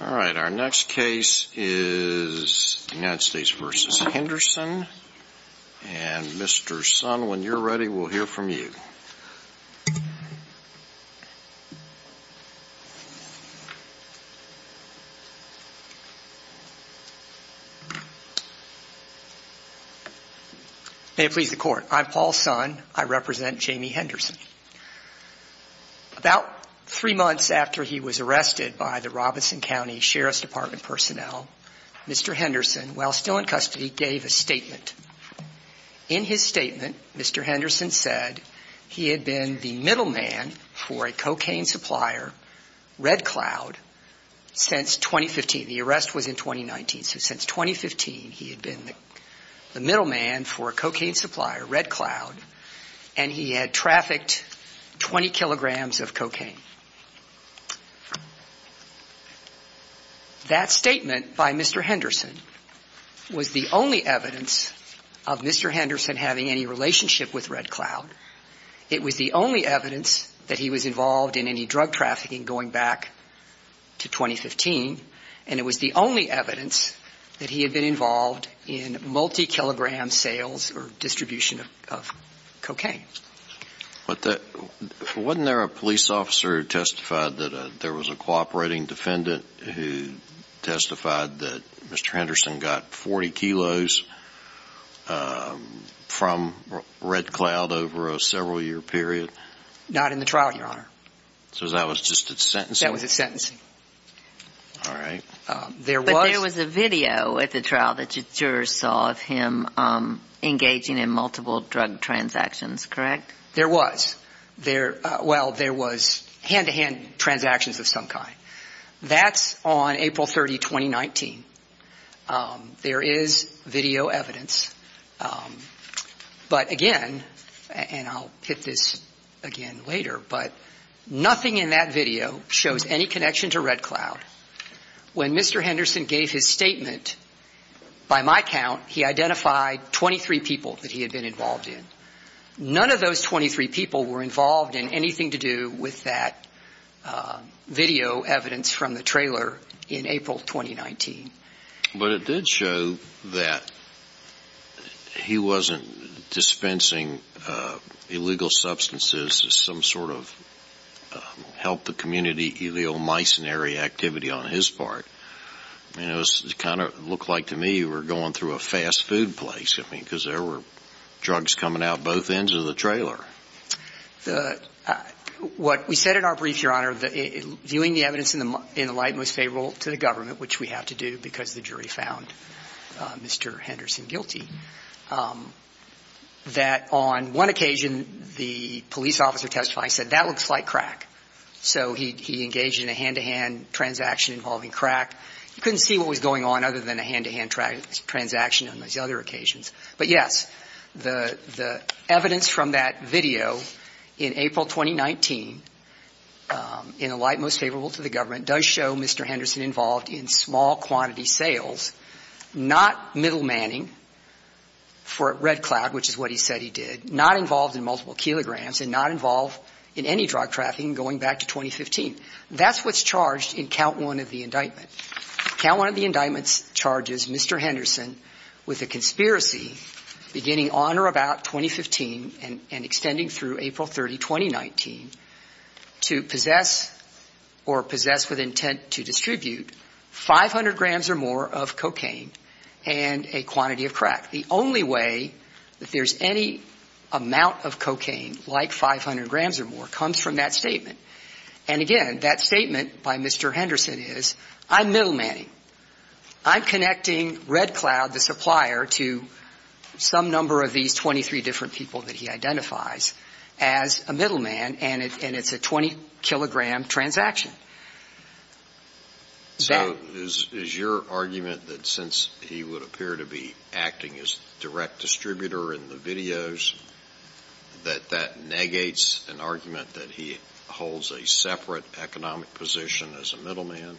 All right, our next case is United States v. Henderson. And Mr. Sun, when you're ready, we'll hear from you. May it please the court. I'm Paul Sun. I represent Jamie Henderson. About three months after he was arrested by the Robinson County Sheriff's Department personnel, Mr. Henderson, while still in custody, gave a statement. In his statement, Mr. Henderson said he had been the middleman for a cocaine supplier, Red Cloud, since 2015. The arrest was in 2019. So since 2015, he had been the middleman for a cocaine supplier, Red Cloud, and he had trafficked 20 kilograms of cocaine. That statement by Mr. Henderson was the only evidence of Mr. Henderson having any relationship with Red Cloud. It was the only evidence that he was involved in any drug trafficking going back to 2015. And it was the only evidence that he had been involved in multi-kilogram sales or distribution of cocaine. Wasn't there a police officer who testified that there was a cooperating defendant who testified that Mr. Henderson got 40 kilos from Red Cloud over a several-year period? Not in the trial, Your Honor. So that was just his sentencing? That was his sentencing. All right. But there was a video at the trial that the jurors saw of him engaging in multiple drug transactions, correct? There was. Well, there was hand-to-hand transactions of some kind. That's on April 30, 2019. There is video evidence. But, again, and I'll hit this again later, but nothing in that video shows any connection to Red Cloud. When Mr. Henderson gave his statement, by my count, he identified 23 people that he had been involved in. None of those 23 people were involved in anything to do with that video evidence from the trailer in April 2019. But it did show that he wasn't dispensing illegal substances as some sort of help-the-community, heliomycinary activity on his part. I mean, it kind of looked like to me you were going through a fast food place, I mean, because there were drugs coming out both ends of the trailer. What we said in our brief, Your Honor, viewing the evidence in the light most favorable to the government, which we have to do because the jury found Mr. Henderson guilty, that on one occasion, the police officer testifying said, that looks like crack. So he engaged in a hand-to-hand transaction involving crack. You couldn't see what was going on other than a hand-to-hand transaction on those other occasions. But, yes, the evidence from that video in April 2019, in the light most favorable to the government, does show Mr. Henderson involved in small-quantity sales, not middlemanning for Red Cloud, which is what he said he did, not involved in multiple kilograms and not involved in any drug trafficking going back to 2015. That's what's charged in count one of the indictment. Count one of the indictments charges Mr. Henderson with a conspiracy beginning on or about 2015 and extending through April 30, 2019, to possess or possess with intent to distribute 500 grams or more of cocaine and a quantity of crack. The only way that there's any amount of cocaine like 500 grams or more comes from that statement. And, again, that statement by Mr. Henderson is, I'm middlemanning. I'm connecting Red Cloud, the supplier, to some number of these 23 different people that he identifies as a middleman, and it's a 20-kilogram transaction. So is your argument that since he would appear to be acting as direct distributor in the videos, that that negates an argument that he holds a separate economic position as a middleman?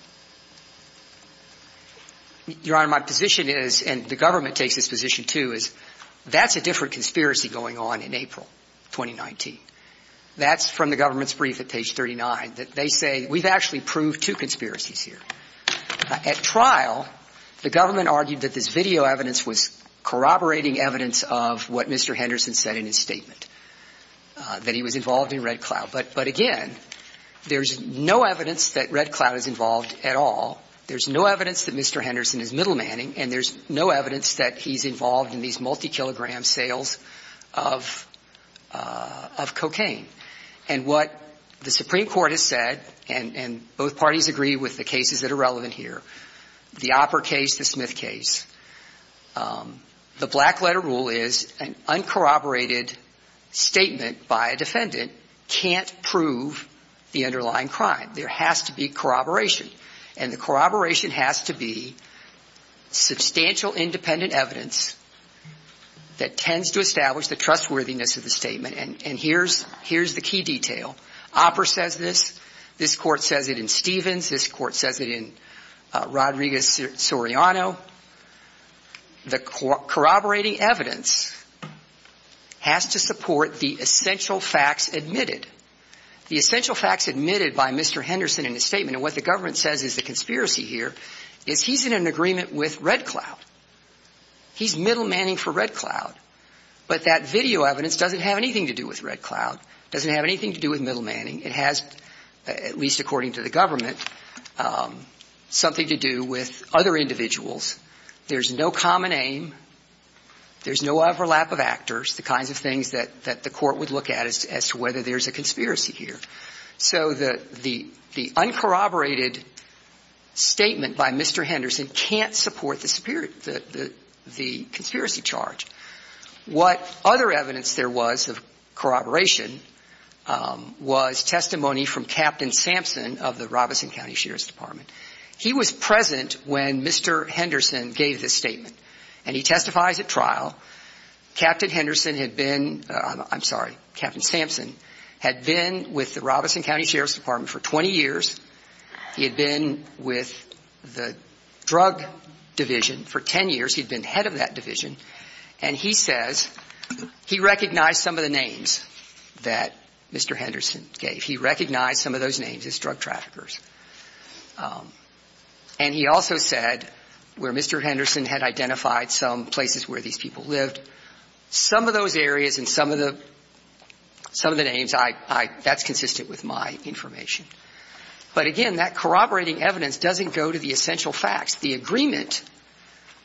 Your Honor, my position is, and the government takes this position too, is that's a different conspiracy going on in April 2019. That's from the government's brief at page 39, that they say we've actually proved two conspiracies here. At trial, the government argued that this video evidence was corroborating evidence of what Mr. Henderson said in his statement, that he was involved in Red Cloud. But, again, there's no evidence that Red Cloud is involved at all. There's no evidence that Mr. Henderson is middlemanning, and there's no evidence that he's involved in these multi-kilogram sales of cocaine. And what the Supreme Court has said, and both parties agree with the cases that are relevant here, the Opper case, the Smith case, the black letter rule is an uncorroborated statement by a defendant can't prove the underlying crime. There has to be corroboration, and the corroboration has to be substantial independent evidence that tends to establish the trustworthiness of the statement. And here's the key detail. Opper says this. This court says it in Stevens. This court says it in Rodriguez-Soriano. The corroborating evidence has to support the essential facts admitted. The essential facts admitted by Mr. Henderson in his statement, and what the government says is the conspiracy here, is he's in an agreement with Red Cloud. He's middlemanning for Red Cloud. But that video evidence doesn't have anything to do with Red Cloud. It doesn't have anything to do with middlemanning. It has, at least according to the government, something to do with other individuals. There's no common aim. There's no overlap of actors, the kinds of things that the court would look at as to whether there's a conspiracy here. So the uncorroborated statement by Mr. Henderson can't support the conspiracy charge. What other evidence there was of corroboration was testimony from Captain Sampson of the Robeson County Sheriff's Department. He was present when Mr. Henderson gave this statement, and he testifies at trial. Captain Henderson had been – I'm sorry, Captain Sampson had been with the Robeson County Sheriff's Department for 20 years. He had been with the drug division for 10 years. He'd been head of that division. And he says he recognized some of the names that Mr. Henderson gave. He recognized some of those names as drug traffickers. And he also said where Mr. Henderson had identified some places where these people lived, some of those areas and some of the names, that's consistent with my information. But again, that corroborating evidence doesn't go to the essential facts. The agreement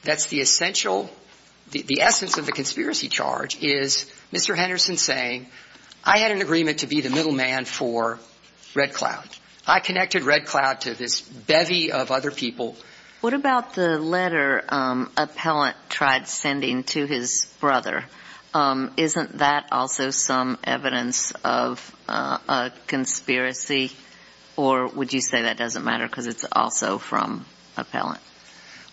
that's the essential – the essence of the conspiracy charge is Mr. Henderson saying, I had an agreement to be the middleman for Red Cloud. I connected Red Cloud to this bevy of other people. What about the letter Appellant tried sending to his brother? Isn't that also some evidence of a conspiracy? Or would you say that doesn't matter because it's also from Appellant?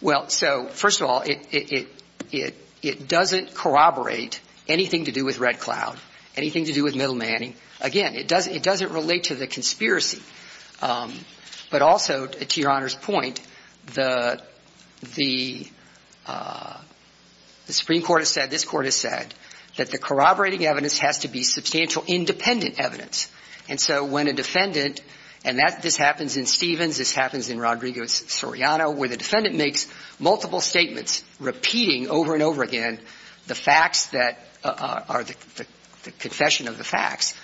Well, so first of all, it doesn't corroborate anything to do with Red Cloud, anything to do with middlemanning. Again, it doesn't relate to the conspiracy. But also, to Your Honor's point, the Supreme Court has said, this Court has said, that the corroborating evidence has to be substantial independent evidence. And so when a defendant – and this happens in Stevens, this happens in Rodrigo Soriano, where the defendant makes multiple statements repeating over and over again the facts that – or the confession of the facts.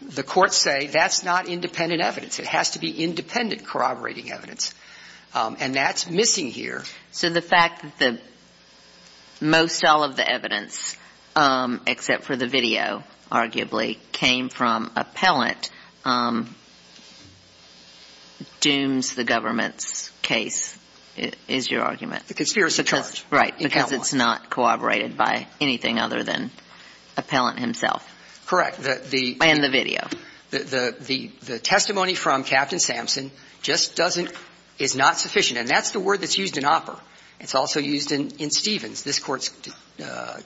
The courts say that's not independent evidence. It has to be independent corroborating evidence. And that's missing here. So the fact that most all of the evidence, except for the video, arguably, came from Appellant, dooms the government's case, is your argument? The conspiracy charge. Right. Because it's not corroborated by anything other than Appellant himself. Correct. And the video. The testimony from Captain Sampson just doesn't – is not sufficient. And that's the word that's used in Opper. It's also used in Stevens. This Court's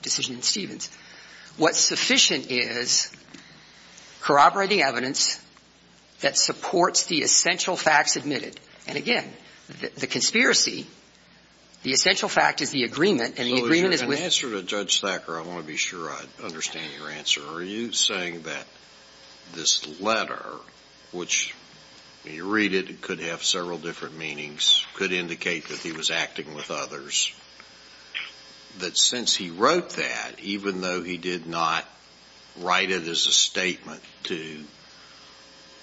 decision in Stevens. What's sufficient is corroborating evidence that supports the essential facts admitted. And again, the conspiracy, the essential fact is the agreement, and the agreement is with – So if you're going to answer to Judge Thacker, I want to be sure I understand your answer. Are you saying that this letter, which when you read it, it could have several different meanings, could indicate that he was acting with others, that since he wrote that, even though he did not write it as a statement to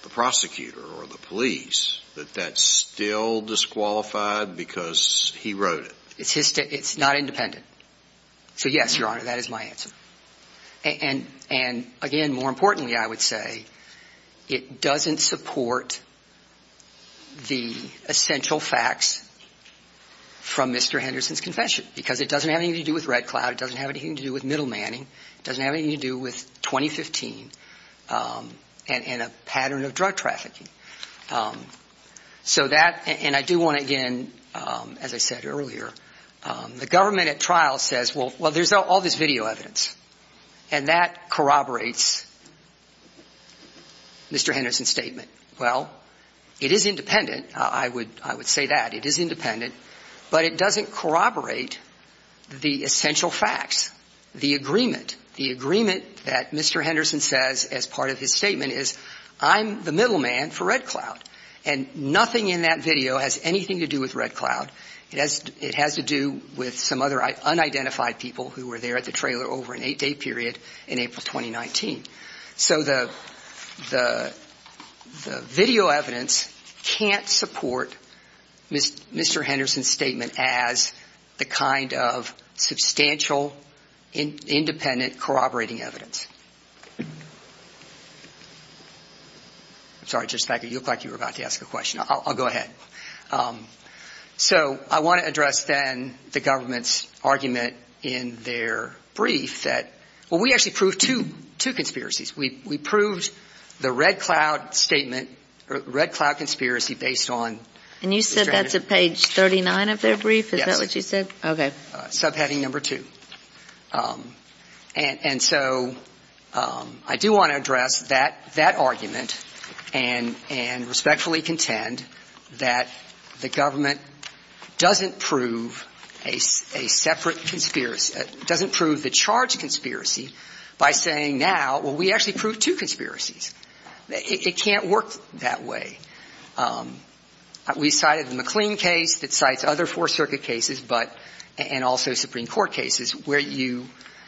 the prosecutor or the police, that that's still disqualified because he wrote it? It's not independent. So yes, Your Honor, that is my answer. And again, more importantly, I would say it doesn't support the essential facts from Mr. Henderson's confession because it doesn't have anything to do with Red Cloud. It doesn't have anything to do with middlemanning. It doesn't have anything to do with 2015 and a pattern of drug trafficking. So that – and I do want to, again, as I said earlier, the government at trial says, well, there's all this video evidence, and that corroborates Mr. Henderson's statement. Well, it is independent. I would say that. It is independent. But it doesn't corroborate the essential facts, the agreement. The agreement that Mr. Henderson says as part of his statement is I'm the middleman for Red Cloud. And nothing in that video has anything to do with Red Cloud. It has to do with some other unidentified people who were there at the trailer over an eight-day period in April 2019. So the video evidence can't support Mr. Henderson's statement as the kind of substantial, independent, corroborating evidence. I'm sorry, Justice Becker, you looked like you were about to ask a question. I'll go ahead. So I want to address then the government's argument in their brief that – well, we actually proved two conspiracies. We proved the Red Cloud statement, Red Cloud conspiracy based on – And you said that's at page 39 of their brief? Yes. Is that what you said? Okay. Subheading number two. And so I do want to address that argument and respectfully contend that the government doesn't prove a separate conspiracy – doesn't prove the charge conspiracy by saying now, well, we actually proved two conspiracies. It can't work that way. We cited the McLean case that cites other Fourth Circuit cases but – and also Supreme Court cases where you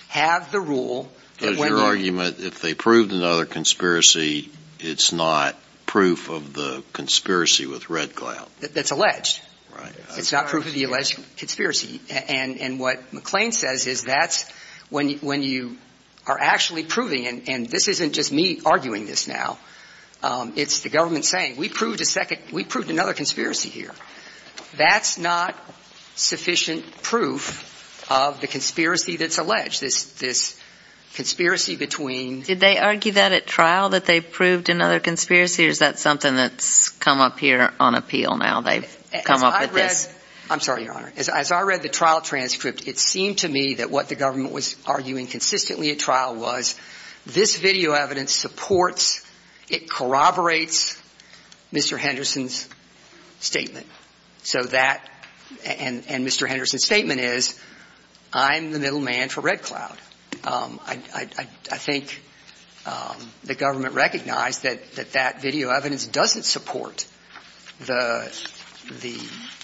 have the rule – Does your argument, if they proved another conspiracy, it's not proof of the conspiracy with Red Cloud? That's alleged. Right. It's not proof of the alleged conspiracy. And what McLean says is that's when you are actually proving – and this isn't just me arguing this now. It's the government saying, we proved a second – we proved another conspiracy here. That's not sufficient proof of the conspiracy that's alleged, this conspiracy between – Did they argue that at trial, that they proved another conspiracy? Or is that something that's come up here on appeal now? They've come up with this – As I read – I'm sorry, Your Honor. As I read the trial transcript, it seemed to me that what the government was arguing consistently at trial was this video evidence supports – it corroborates Mr. Henderson's statement. So that – and Mr. Henderson's statement is, I'm the middle man for Red Cloud. I think the government recognized that that video evidence doesn't support the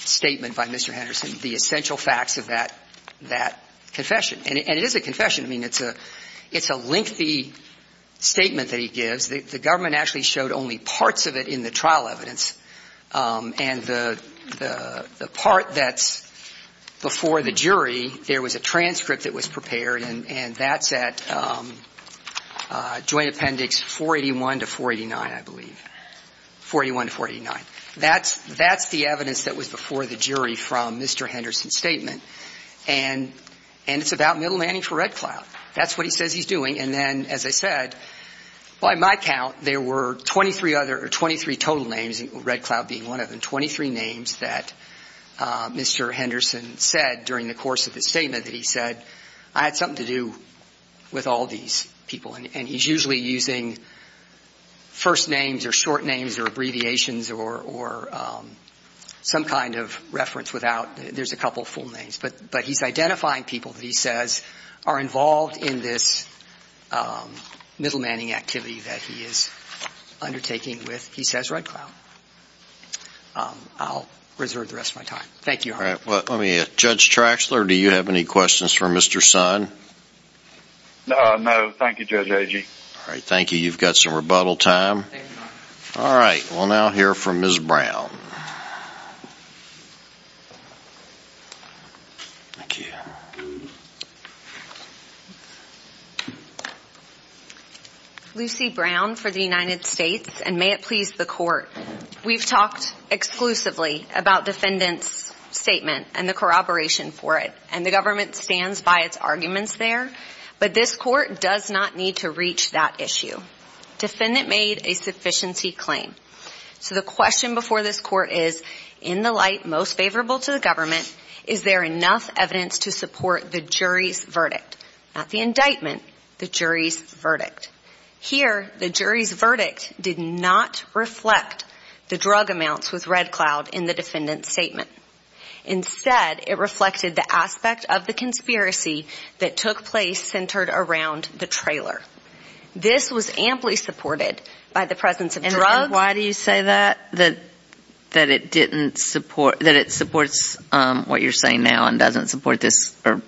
statement by Mr. Henderson, the essential facts of that confession. And it is a confession. I mean, it's a lengthy statement that he gives. The government actually showed only parts of it in the trial evidence. And the part that's before the jury, there was a transcript that was prepared, and that's at Joint Appendix 481 to 489, I believe. 481 to 489. That's the evidence that was before the jury from Mr. Henderson's statement. And it's about middle manning for Red Cloud. That's what he says he's doing. And then, as I said, by my count, there were 23 other – or 23 total names, Red Cloud being one of them, 23 names that Mr. Henderson said during the course of his statement that he said, I had something to do with all these people. And he's usually using first names or short names or abbreviations or some kind of reference without – there's a couple full names. But he's identifying people that he says are involved in this middle manning activity that he is undertaking with, he says, Red Cloud. I'll reserve the rest of my time. Thank you. All right. Let me – Judge Traxler, do you have any questions for Mr. Son? No. Thank you, Judge Agee. All right. Thank you. You've got some rebuttal time. All right. We'll now hear from Ms. Brown. Thank you. Lucy Brown for the United States, and may it please the Court. We've talked exclusively about defendant's statement and the corroboration for it, and the government stands by its arguments there. But this Court does not need to reach that issue. Defendant made a sufficiency claim. So the question before this Court is, in the light most favorable to the government, is there enough evidence to support the jury's verdict? Not the indictment, the jury's verdict. Here, the jury's verdict did not reflect the drug amounts with Red Cloud in the defendant's statement. Instead, it reflected the aspect of the conspiracy that took place centered around the trailer. This was amply supported by the presence of drugs. And why do you say that, that it supports what you're saying now and doesn't support this or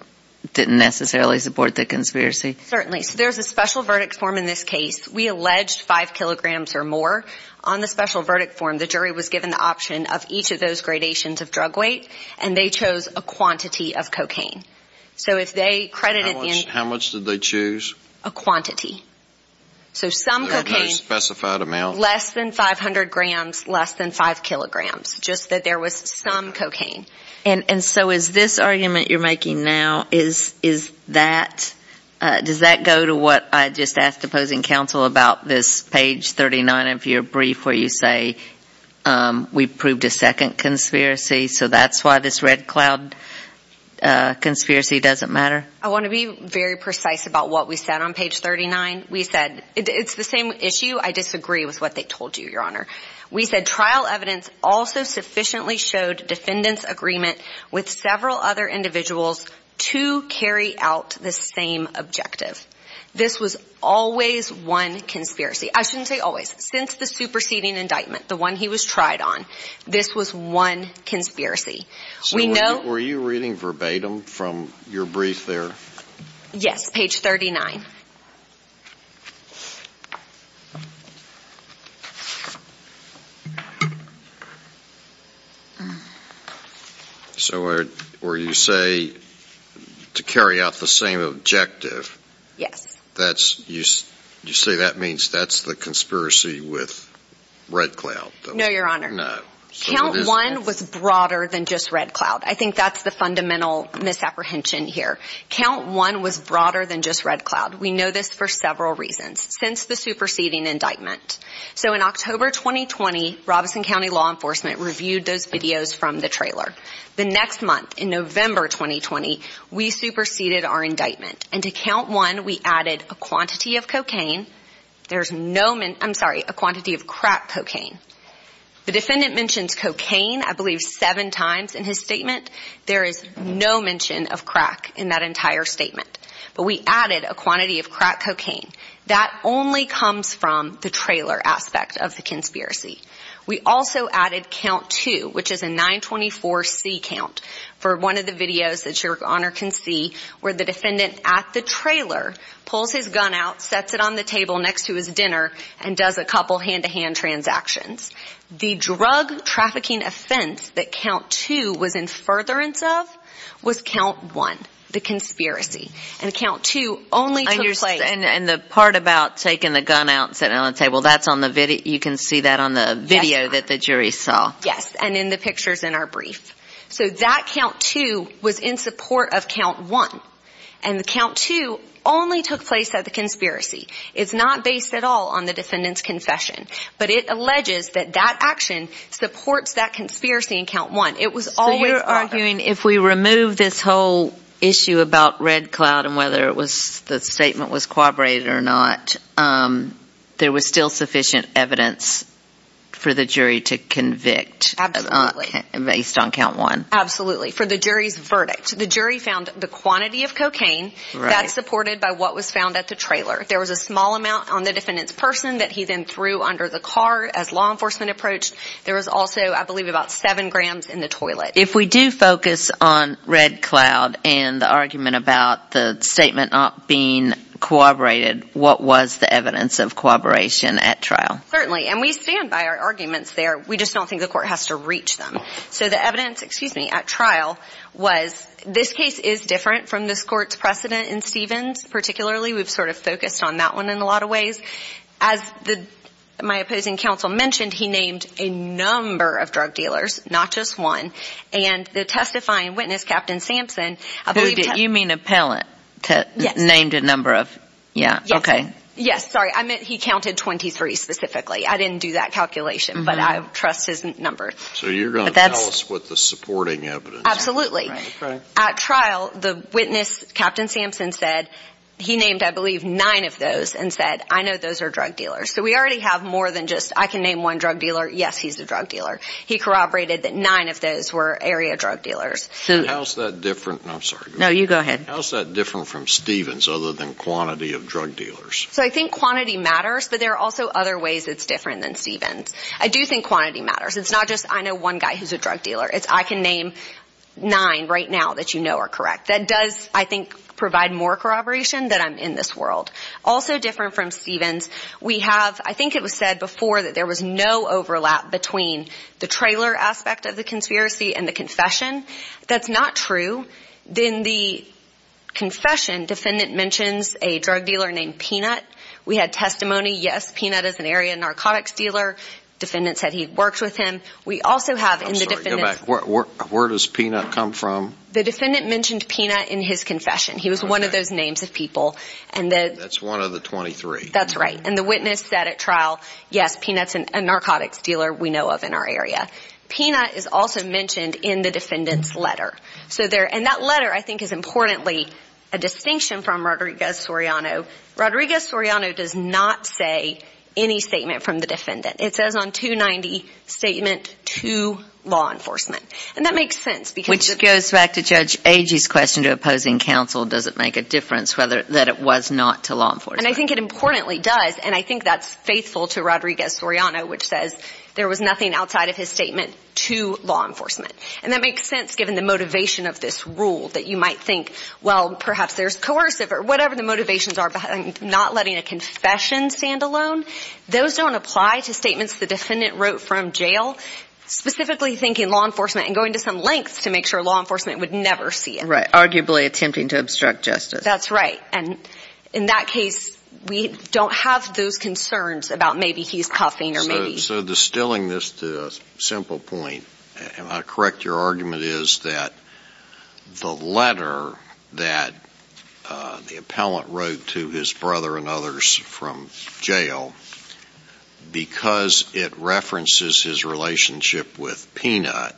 didn't necessarily support the conspiracy? Certainly. So there's a special verdict form in this case. We alleged 5 kilograms or more. On the special verdict form, the jury was given the option of each of those gradations of drug weight, and they chose a quantity of cocaine. How much did they choose? A quantity. So some cocaine, less than 500 grams, less than 5 kilograms, just that there was some cocaine. And so is this argument you're making now, is that, does that go to what I just asked opposing counsel about this page 39 of your brief where you say, we've proved a second conspiracy, so that's why this Red Cloud conspiracy doesn't matter? I want to be very precise about what we said on page 39. We said it's the same issue. I disagree with what they told you, Your Honor. We said trial evidence also sufficiently showed defendant's agreement with several other individuals to carry out the same objective. This was always one conspiracy. I shouldn't say always. Since the superseding indictment, the one he was tried on, this was one conspiracy. So were you reading verbatim from your brief there? Yes, page 39. So where you say to carry out the same objective. Yes. You say that means that's the conspiracy with Red Cloud. No, Your Honor. No. Count one was broader than just Red Cloud. I think that's the fundamental misapprehension here. Count one was broader than just Red Cloud. We know this for several reasons. Since the superseding indictment. So in October 2020, Robeson County Law Enforcement reviewed those videos from the trailer. The next month, in November 2020, we superseded our indictment. And to count one, we added a quantity of crack cocaine. The defendant mentions cocaine, I believe, seven times in his statement. There is no mention of crack in that entire statement. But we added a quantity of crack cocaine. That only comes from the trailer aspect of the conspiracy. We also added count two, which is a 924C count for one of the videos that Your Honor can see where the defendant at the trailer pulls his gun out, sets it on the table next to his dinner, and does a couple hand-to-hand transactions. The drug trafficking offense that count two was in furtherance of was count one, the conspiracy. And count two only took place. And the part about taking the gun out and setting it on the table, that's on the video. You can see that on the video that the jury saw. Yes, and in the pictures in our brief. So that count two was in support of count one. And the count two only took place at the conspiracy. It's not based at all on the defendant's confession. But it alleges that that action supports that conspiracy in count one. So you're arguing if we remove this whole issue about Red Cloud and whether the statement was corroborated or not, there was still sufficient evidence for the jury to convict based on count one. Absolutely, for the jury's verdict. The jury found the quantity of cocaine that's supported by what was found at the trailer. There was a small amount on the defendant's person that he then threw under the car as law enforcement approached. There was also, I believe, about seven grams in the toilet. If we do focus on Red Cloud and the argument about the statement not being corroborated, what was the evidence of corroboration at trial? Certainly, and we stand by our arguments there. We just don't think the court has to reach them. So the evidence at trial was this case is different from this court's precedent in Stevens. Particularly, we've sort of focused on that one in a lot of ways. As my opposing counsel mentioned, he named a number of drug dealers, not just one. And the testifying witness, Captain Sampson, I believe – You mean appellant named a number of – Yes. Okay. Yes, sorry, I meant he counted 23 specifically. I didn't do that calculation, but I trust his number. So you're going to tell us what the supporting evidence is. Absolutely. At trial, the witness, Captain Sampson, said he named, I believe, nine of those and said, I know those are drug dealers. So we already have more than just I can name one drug dealer, yes, he's a drug dealer. He corroborated that nine of those were area drug dealers. How is that different – I'm sorry. No, you go ahead. How is that different from Stevens other than quantity of drug dealers? So I think quantity matters, but there are also other ways it's different than Stevens. I do think quantity matters. It's not just I know one guy who's a drug dealer. It's I can name nine right now that you know are correct. That does, I think, provide more corroboration that I'm in this world. Also different from Stevens, we have – aspect of the conspiracy and the confession. That's not true. In the confession, defendant mentions a drug dealer named Peanut. We had testimony, yes, Peanut is an area narcotics dealer. Defendant said he worked with him. We also have – I'm sorry. Go back. Where does Peanut come from? The defendant mentioned Peanut in his confession. He was one of those names of people. That's one of the 23. That's right. And the witness said at trial, yes, Peanut's a narcotics dealer we know of in our area. Peanut is also mentioned in the defendant's letter. And that letter, I think, is importantly a distinction from Rodriguez-Soriano. Rodriguez-Soriano does not say any statement from the defendant. It says on 290, statement to law enforcement. And that makes sense because – Which goes back to Judge Agee's question to opposing counsel, does it make a difference that it was not to law enforcement? And I think it importantly does, and I think that's faithful to Rodriguez-Soriano, which says there was nothing outside of his statement to law enforcement. And that makes sense given the motivation of this rule that you might think, well, perhaps there's coercive or whatever the motivations are behind not letting a confession stand alone. Those don't apply to statements the defendant wrote from jail, specifically thinking law enforcement and going to some lengths to make sure law enforcement would never see it. Right, arguably attempting to obstruct justice. That's right. And in that case, we don't have those concerns about maybe he's cuffing or maybe – So distilling this to a simple point, and I'll correct your argument, is that the letter that the appellant wrote to his brother and others from jail, because it references his relationship with Peanut,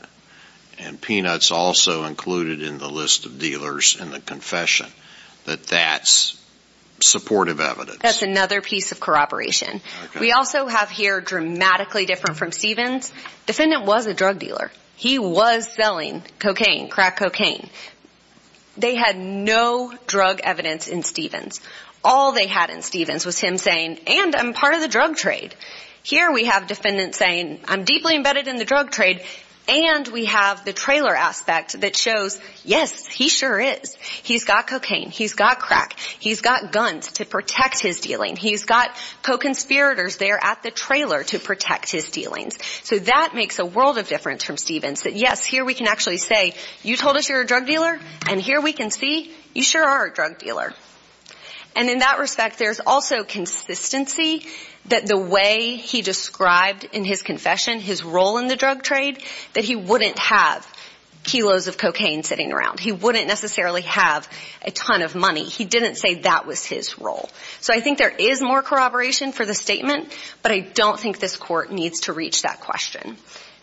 and Peanut's also included in the list of dealers in the confession, that that's supportive evidence. That's another piece of corroboration. We also have here, dramatically different from Stevens, defendant was a drug dealer. He was selling cocaine, crack cocaine. They had no drug evidence in Stevens. All they had in Stevens was him saying, and I'm part of the drug trade. Here we have defendants saying, I'm deeply embedded in the drug trade, and we have the trailer aspect that shows, yes, he sure is. He's got cocaine. He's got crack. He's got guns to protect his dealing. He's got co-conspirators there at the trailer to protect his dealings. So that makes a world of difference from Stevens, that, yes, here we can actually say, you told us you're a drug dealer, and here we can see you sure are a drug dealer. And in that respect, there's also consistency that the way he described in his confession his role in the drug trade, that he wouldn't have kilos of cocaine sitting around. He wouldn't necessarily have a ton of money. He didn't say that was his role. So I think there is more corroboration for the statement, but I don't think this Court needs to reach that question.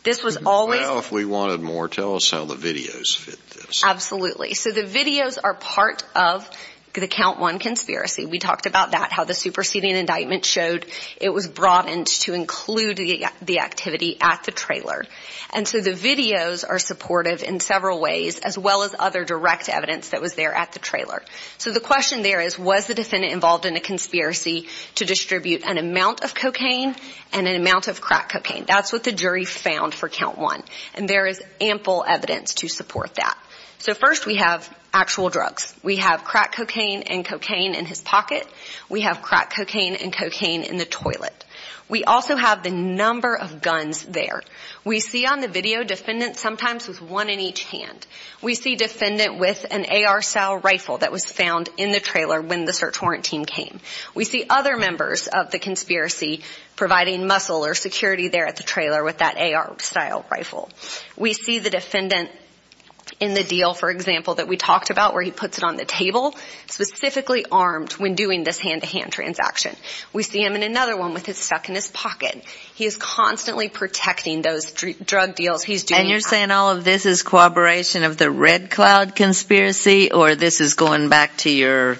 This was always – Well, if we wanted more, tell us how the videos fit this. Absolutely. So the videos are part of the count one conspiracy. We talked about that, how the superseding indictment showed it was broadened to include the activity at the trailer. And so the videos are supportive in several ways, as well as other direct evidence that was there at the trailer. So the question there is, was the defendant involved in a conspiracy to distribute an amount of cocaine and an amount of crack cocaine? That's what the jury found for count one. And there is ample evidence to support that. So first we have actual drugs. We have crack cocaine and cocaine in his pocket. We have crack cocaine and cocaine in the toilet. We also have the number of guns there. We see on the video defendants sometimes with one in each hand. We see defendant with an AR-style rifle that was found in the trailer when the search warrant team came. We see other members of the conspiracy providing muscle or security there at the trailer with that AR-style rifle. We see the defendant in the deal, for example, that we talked about where he puts it on the table, specifically armed when doing this hand-to-hand transaction. We see him in another one with it stuck in his pocket. He is constantly protecting those drug deals he's doing. And you're saying all of this is corroboration of the Red Cloud conspiracy or this is going back to your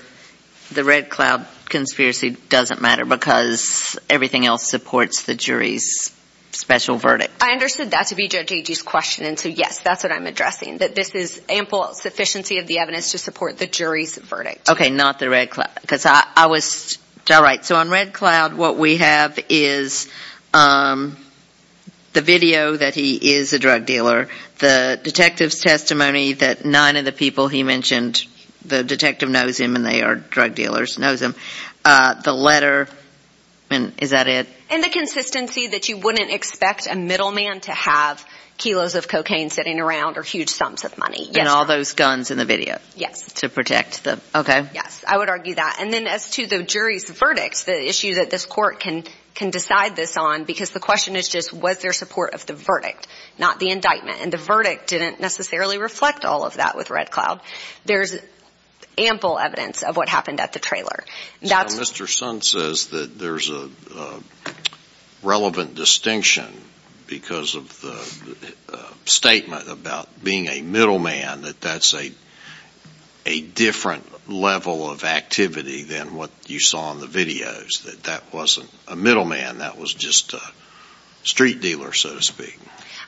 the Red Cloud conspiracy doesn't matter because everything else supports the jury's special verdict? I understood that to be Judge Agee's question. And so, yes, that's what I'm addressing, that this is ample sufficiency of the evidence to support the jury's verdict. Okay, not the Red Cloud. All right, so on Red Cloud what we have is the video that he is a drug dealer, the detective's testimony that nine of the people he mentioned, the detective knows him and they are drug dealers, knows him. The letter, is that it? And the consistency that you wouldn't expect a middleman to have kilos of cocaine sitting around or huge sums of money, yes. And all those guns in the video? Yes. To protect them, okay. Yes, I would argue that. And then as to the jury's verdict, the issue that this court can decide this on, because the question is just was there support of the verdict, not the indictment. And the verdict didn't necessarily reflect all of that with Red Cloud. There's ample evidence of what happened at the trailer. So Mr. Sun says that there's a relevant distinction because of the statement about being a middleman, that that's a different level of activity than what you saw in the videos, that that wasn't a middleman, that was just a street dealer, so to speak.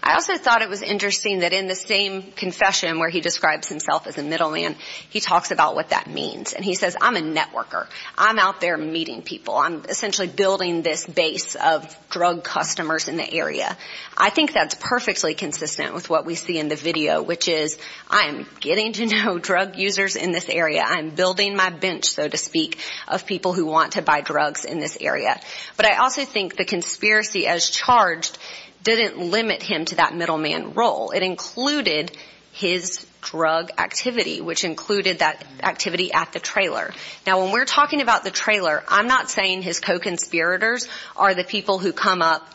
I also thought it was interesting that in the same confession where he describes himself as a middleman, he talks about what that means. And he says, I'm a networker. I'm out there meeting people. I'm essentially building this base of drug customers in the area. I think that's perfectly consistent with what we see in the video, which is I'm getting to know drug users in this area. I'm building my bench, so to speak, of people who want to buy drugs in this area. But I also think the conspiracy as charged didn't limit him to that middleman role. It included his drug activity, which included that activity at the trailer. Now, when we're talking about the trailer, I'm not saying his co-conspirators are the people who come up,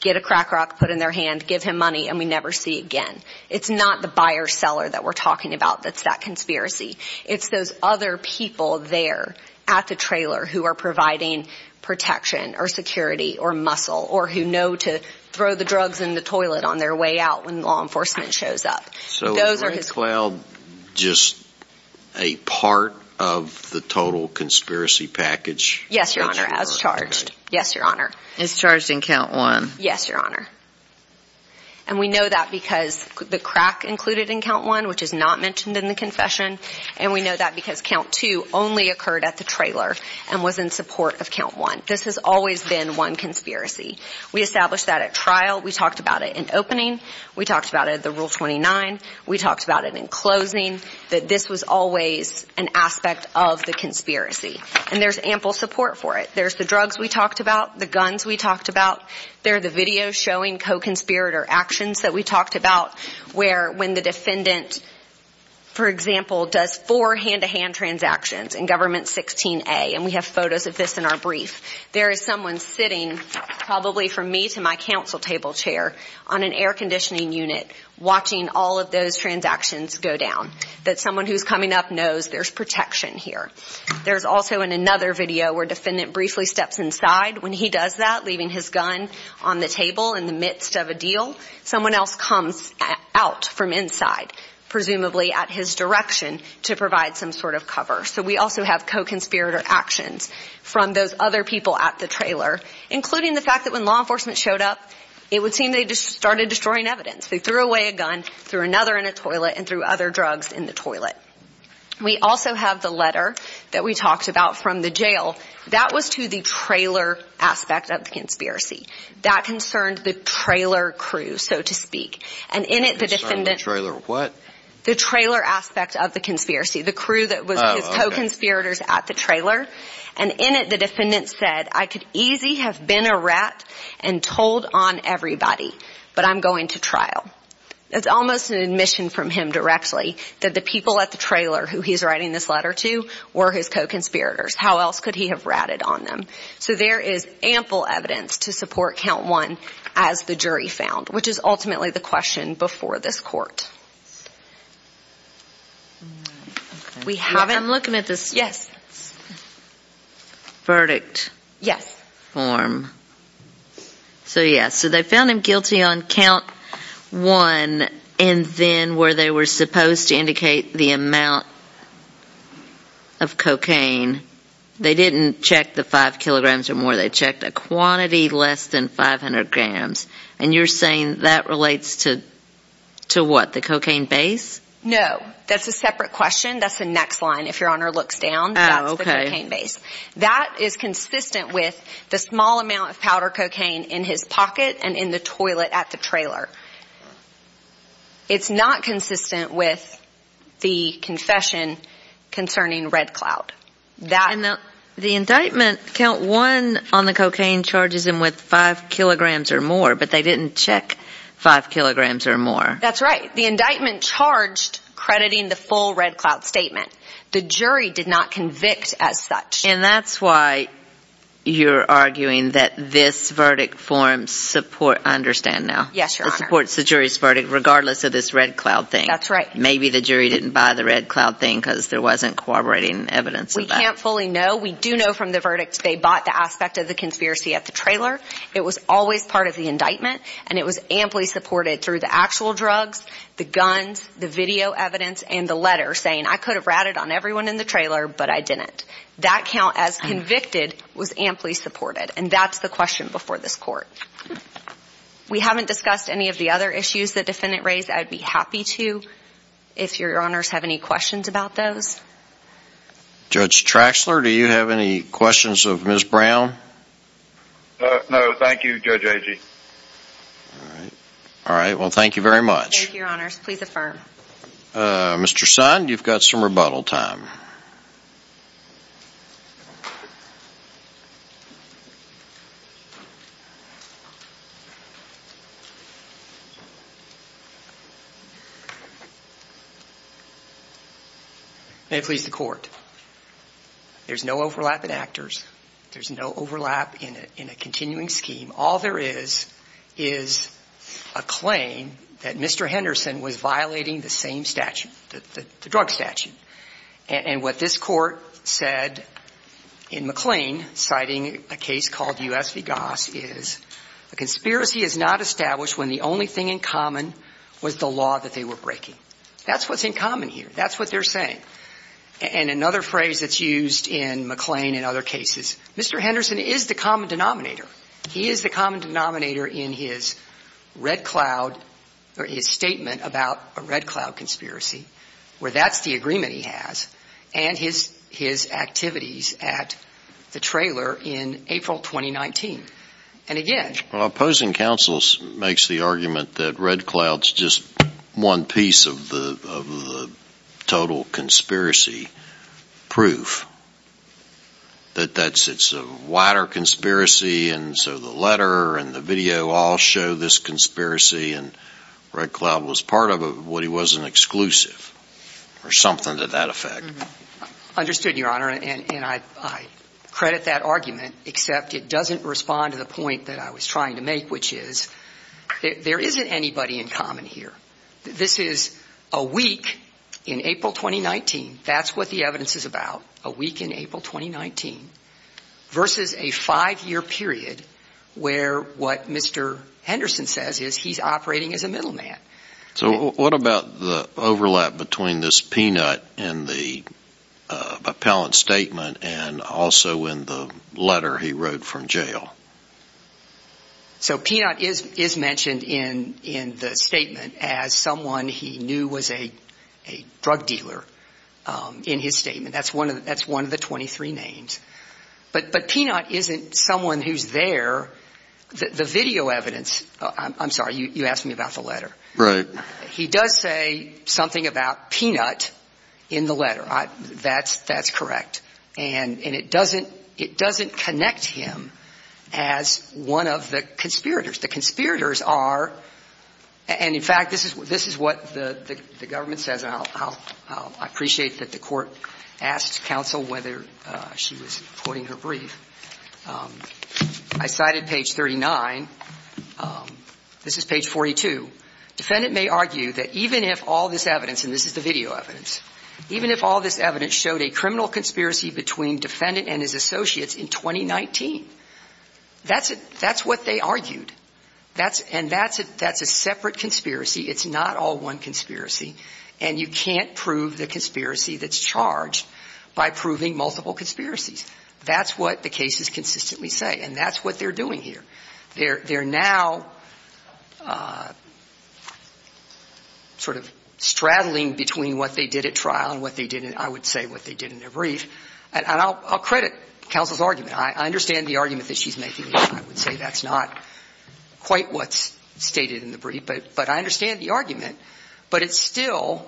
get a crack rock, put it in their hand, give him money, and we never see it again. It's not the buyer-seller that we're talking about that's that conspiracy. It's those other people there at the trailer who are providing protection or security or muscle or who know to throw the drugs in the toilet on their way out when law enforcement shows up. So was Ray Cloud just a part of the total conspiracy package? Yes, Your Honor, as charged. Yes, Your Honor. As charged in count one. Yes, Your Honor. And we know that because the crack included in count one, which is not mentioned in the confession, and we know that because count two only occurred at the trailer and was in support of count one. This has always been one conspiracy. We established that at trial. We talked about it in opening. We talked about it at the Rule 29. We talked about it in closing, that this was always an aspect of the conspiracy. And there's ample support for it. There's the drugs we talked about, the guns we talked about. There are the videos showing co-conspirator actions that we talked about where when the defendant, for example, does four hand-to-hand transactions in Government 16A, and we have photos of this in our brief, there is someone sitting probably from me to my counsel table chair on an air conditioning unit watching all of those transactions go down, that someone who's coming up knows there's protection here. There's also in another video where defendant briefly steps inside when he does that, leaving his gun on the table in the midst of a deal. Someone else comes out from inside, presumably at his direction, to provide some sort of cover. So we also have co-conspirator actions from those other people at the trailer, including the fact that when law enforcement showed up, it would seem they just started destroying evidence. They threw away a gun, threw another in a toilet, and threw other drugs in the toilet. We also have the letter that we talked about from the jail. That was to the trailer aspect of the conspiracy. That concerned the trailer crew, so to speak. And in it, the defendant... The trailer what? The trailer aspect of the conspiracy. The crew that was his co-conspirators at the trailer. And in it, the defendant said, I could easy have been a rat and told on everybody, but I'm going to trial. It's almost an admission from him directly that the people at the trailer who he's writing this letter to were his co-conspirators. How else could he have ratted on them? So there is ample evidence to support count one as the jury found, which is ultimately the question before this court. We haven't... I'm looking at this. Yes. Verdict. Yes. Form. So, yes. So they found him guilty on count one, and then where they were supposed to indicate the amount of cocaine, they didn't check the five kilograms or more. They checked a quantity less than 500 grams. And you're saying that relates to what, the cocaine base? No. That's a separate question. That's the next line. If Your Honor looks down, that's the cocaine base. That is consistent with the small amount of powder cocaine in his pocket and in the toilet at the trailer. It's not consistent with the confession concerning Red Cloud. The indictment, count one on the cocaine charges him with five kilograms or more, but they didn't check five kilograms or more. That's right. The indictment charged crediting the full Red Cloud statement. The jury did not convict as such. And that's why you're arguing that this verdict forms support. I understand now. Yes, Your Honor. It supports the jury's verdict regardless of this Red Cloud thing. That's right. Maybe the jury didn't buy the Red Cloud thing because there wasn't corroborating evidence of that. We can't fully know. We do know from the verdict they bought the aspect of the conspiracy at the trailer. It was always part of the indictment, and it was amply supported through the actual drugs, the guns, the video evidence, and the letter saying I could have ratted on everyone in the trailer, but I didn't. That count as convicted was amply supported, and that's the question before this court. We haven't discussed any of the other issues the defendant raised. I'd be happy to if Your Honors have any questions about those. Judge Traxler, do you have any questions of Ms. Brown? No, thank you, Judge Agee. All right. Well, thank you very much. Thank you, Your Honors. Please affirm. Mr. Sund, you've got some rebuttal time. May it please the Court. There's no overlap in actors. There's no overlap in a continuing scheme. All there is is a claim that Mr. Henderson was violating the same statute, the drug statute. And what this Court said in McLean, citing a case called U.S. v. Goss, is a conspiracy is not established when the only thing in common was the law that they were breaking. That's what's in common here. That's what they're saying. And another phrase that's used in McLean and other cases, Mr. Henderson is the common denominator. He is the common denominator in his red cloud or his statement about a red cloud conspiracy, where that's the agreement he has, and his activities at the trailer in April 2019. And again— Well, opposing counsel makes the argument that red cloud's just one piece of the total conspiracy proof, that it's a wider conspiracy and so the letter and the video all show this conspiracy and red cloud was part of it, but he wasn't exclusive or something to that effect. Understood, Your Honor. And I credit that argument, except it doesn't respond to the point that I was trying to make, which is there isn't anybody in common here. This is a week in April 2019. That's what the evidence is about, a week in April 2019, versus a five-year period where what Mr. Henderson says is he's operating as a middleman. So what about the overlap between this peanut in the appellant's statement and also in the letter he wrote from jail? So peanut is mentioned in the statement as someone he knew was a drug dealer in his statement. That's one of the 23 names. But peanut isn't someone who's there. The video evidence—I'm sorry, you asked me about the letter. Right. He does say something about peanut in the letter. That's correct. And it doesn't connect him as one of the conspirators. The conspirators are—and, in fact, this is what the government says, and I appreciate that the Court asked counsel whether she was quoting her brief. I cited page 39. This is page 42. Defendant may argue that even if all this evidence—and this is the video evidence— even if all this evidence showed a criminal conspiracy between defendant and his associates in 2019, that's what they argued. And that's a separate conspiracy. It's not all one conspiracy. And you can't prove the conspiracy that's charged by proving multiple conspiracies. That's what the cases consistently say, and that's what they're doing here. They're now sort of straddling between what they did at trial and what they did in—I would say what they did in their brief. And I'll credit counsel's argument. I understand the argument that she's making. I would say that's not quite what's stated in the brief. But I understand the argument. But it's still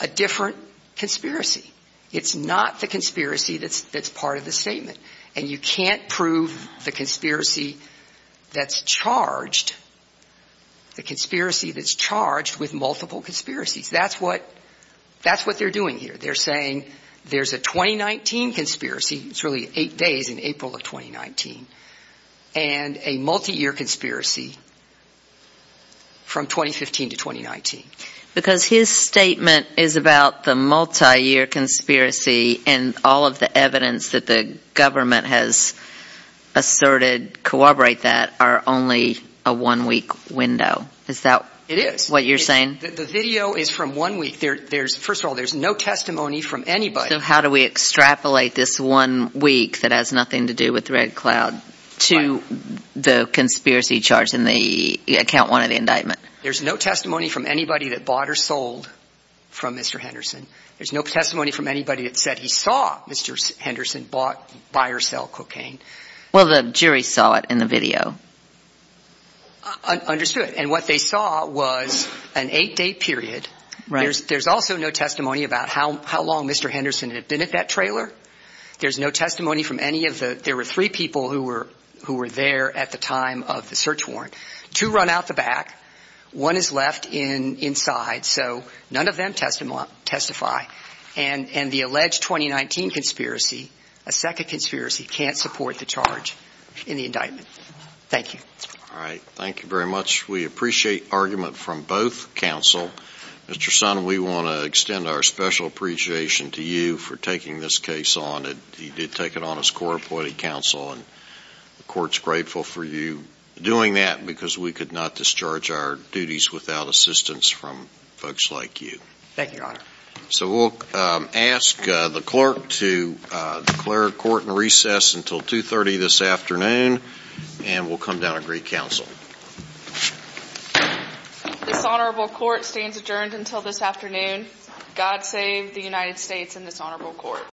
a different conspiracy. It's not the conspiracy that's part of the statement. And you can't prove the conspiracy that's charged—the conspiracy that's charged with multiple conspiracies. That's what they're doing here. They're saying there's a 2019 conspiracy—it's really eight days in April of 2019— Because his statement is about the multiyear conspiracy, and all of the evidence that the government has asserted corroborate that are only a one-week window. Is that what you're saying? It is. The video is from one week. First of all, there's no testimony from anybody. So how do we extrapolate this one week that has nothing to do with the red cloud to the conspiracy charged in the—account one of the indictment? There's no testimony from anybody that bought or sold from Mr. Henderson. There's no testimony from anybody that said he saw Mr. Henderson buy or sell cocaine. Well, the jury saw it in the video. Understood. And what they saw was an eight-day period. There's also no testimony about how long Mr. Henderson had been at that trailer. There's no testimony from any of the—there were three people who were there at the time of the search warrant. Two run out the back. One is left inside. So none of them testify. And the alleged 2019 conspiracy, a second conspiracy, can't support the charge in the indictment. Thank you. All right. Thank you very much. We appreciate argument from both counsel. Mr. Sonnen, we want to extend our special appreciation to you for taking this case on. You did take it on as court-appointed counsel, and the court's grateful for you doing that. Because we could not discharge our duties without assistance from folks like you. Thank you, Your Honor. So we'll ask the clerk to declare court and recess until 2.30 this afternoon. And we'll come down and greet counsel. This honorable court stands adjourned until this afternoon. God save the United States and this honorable court.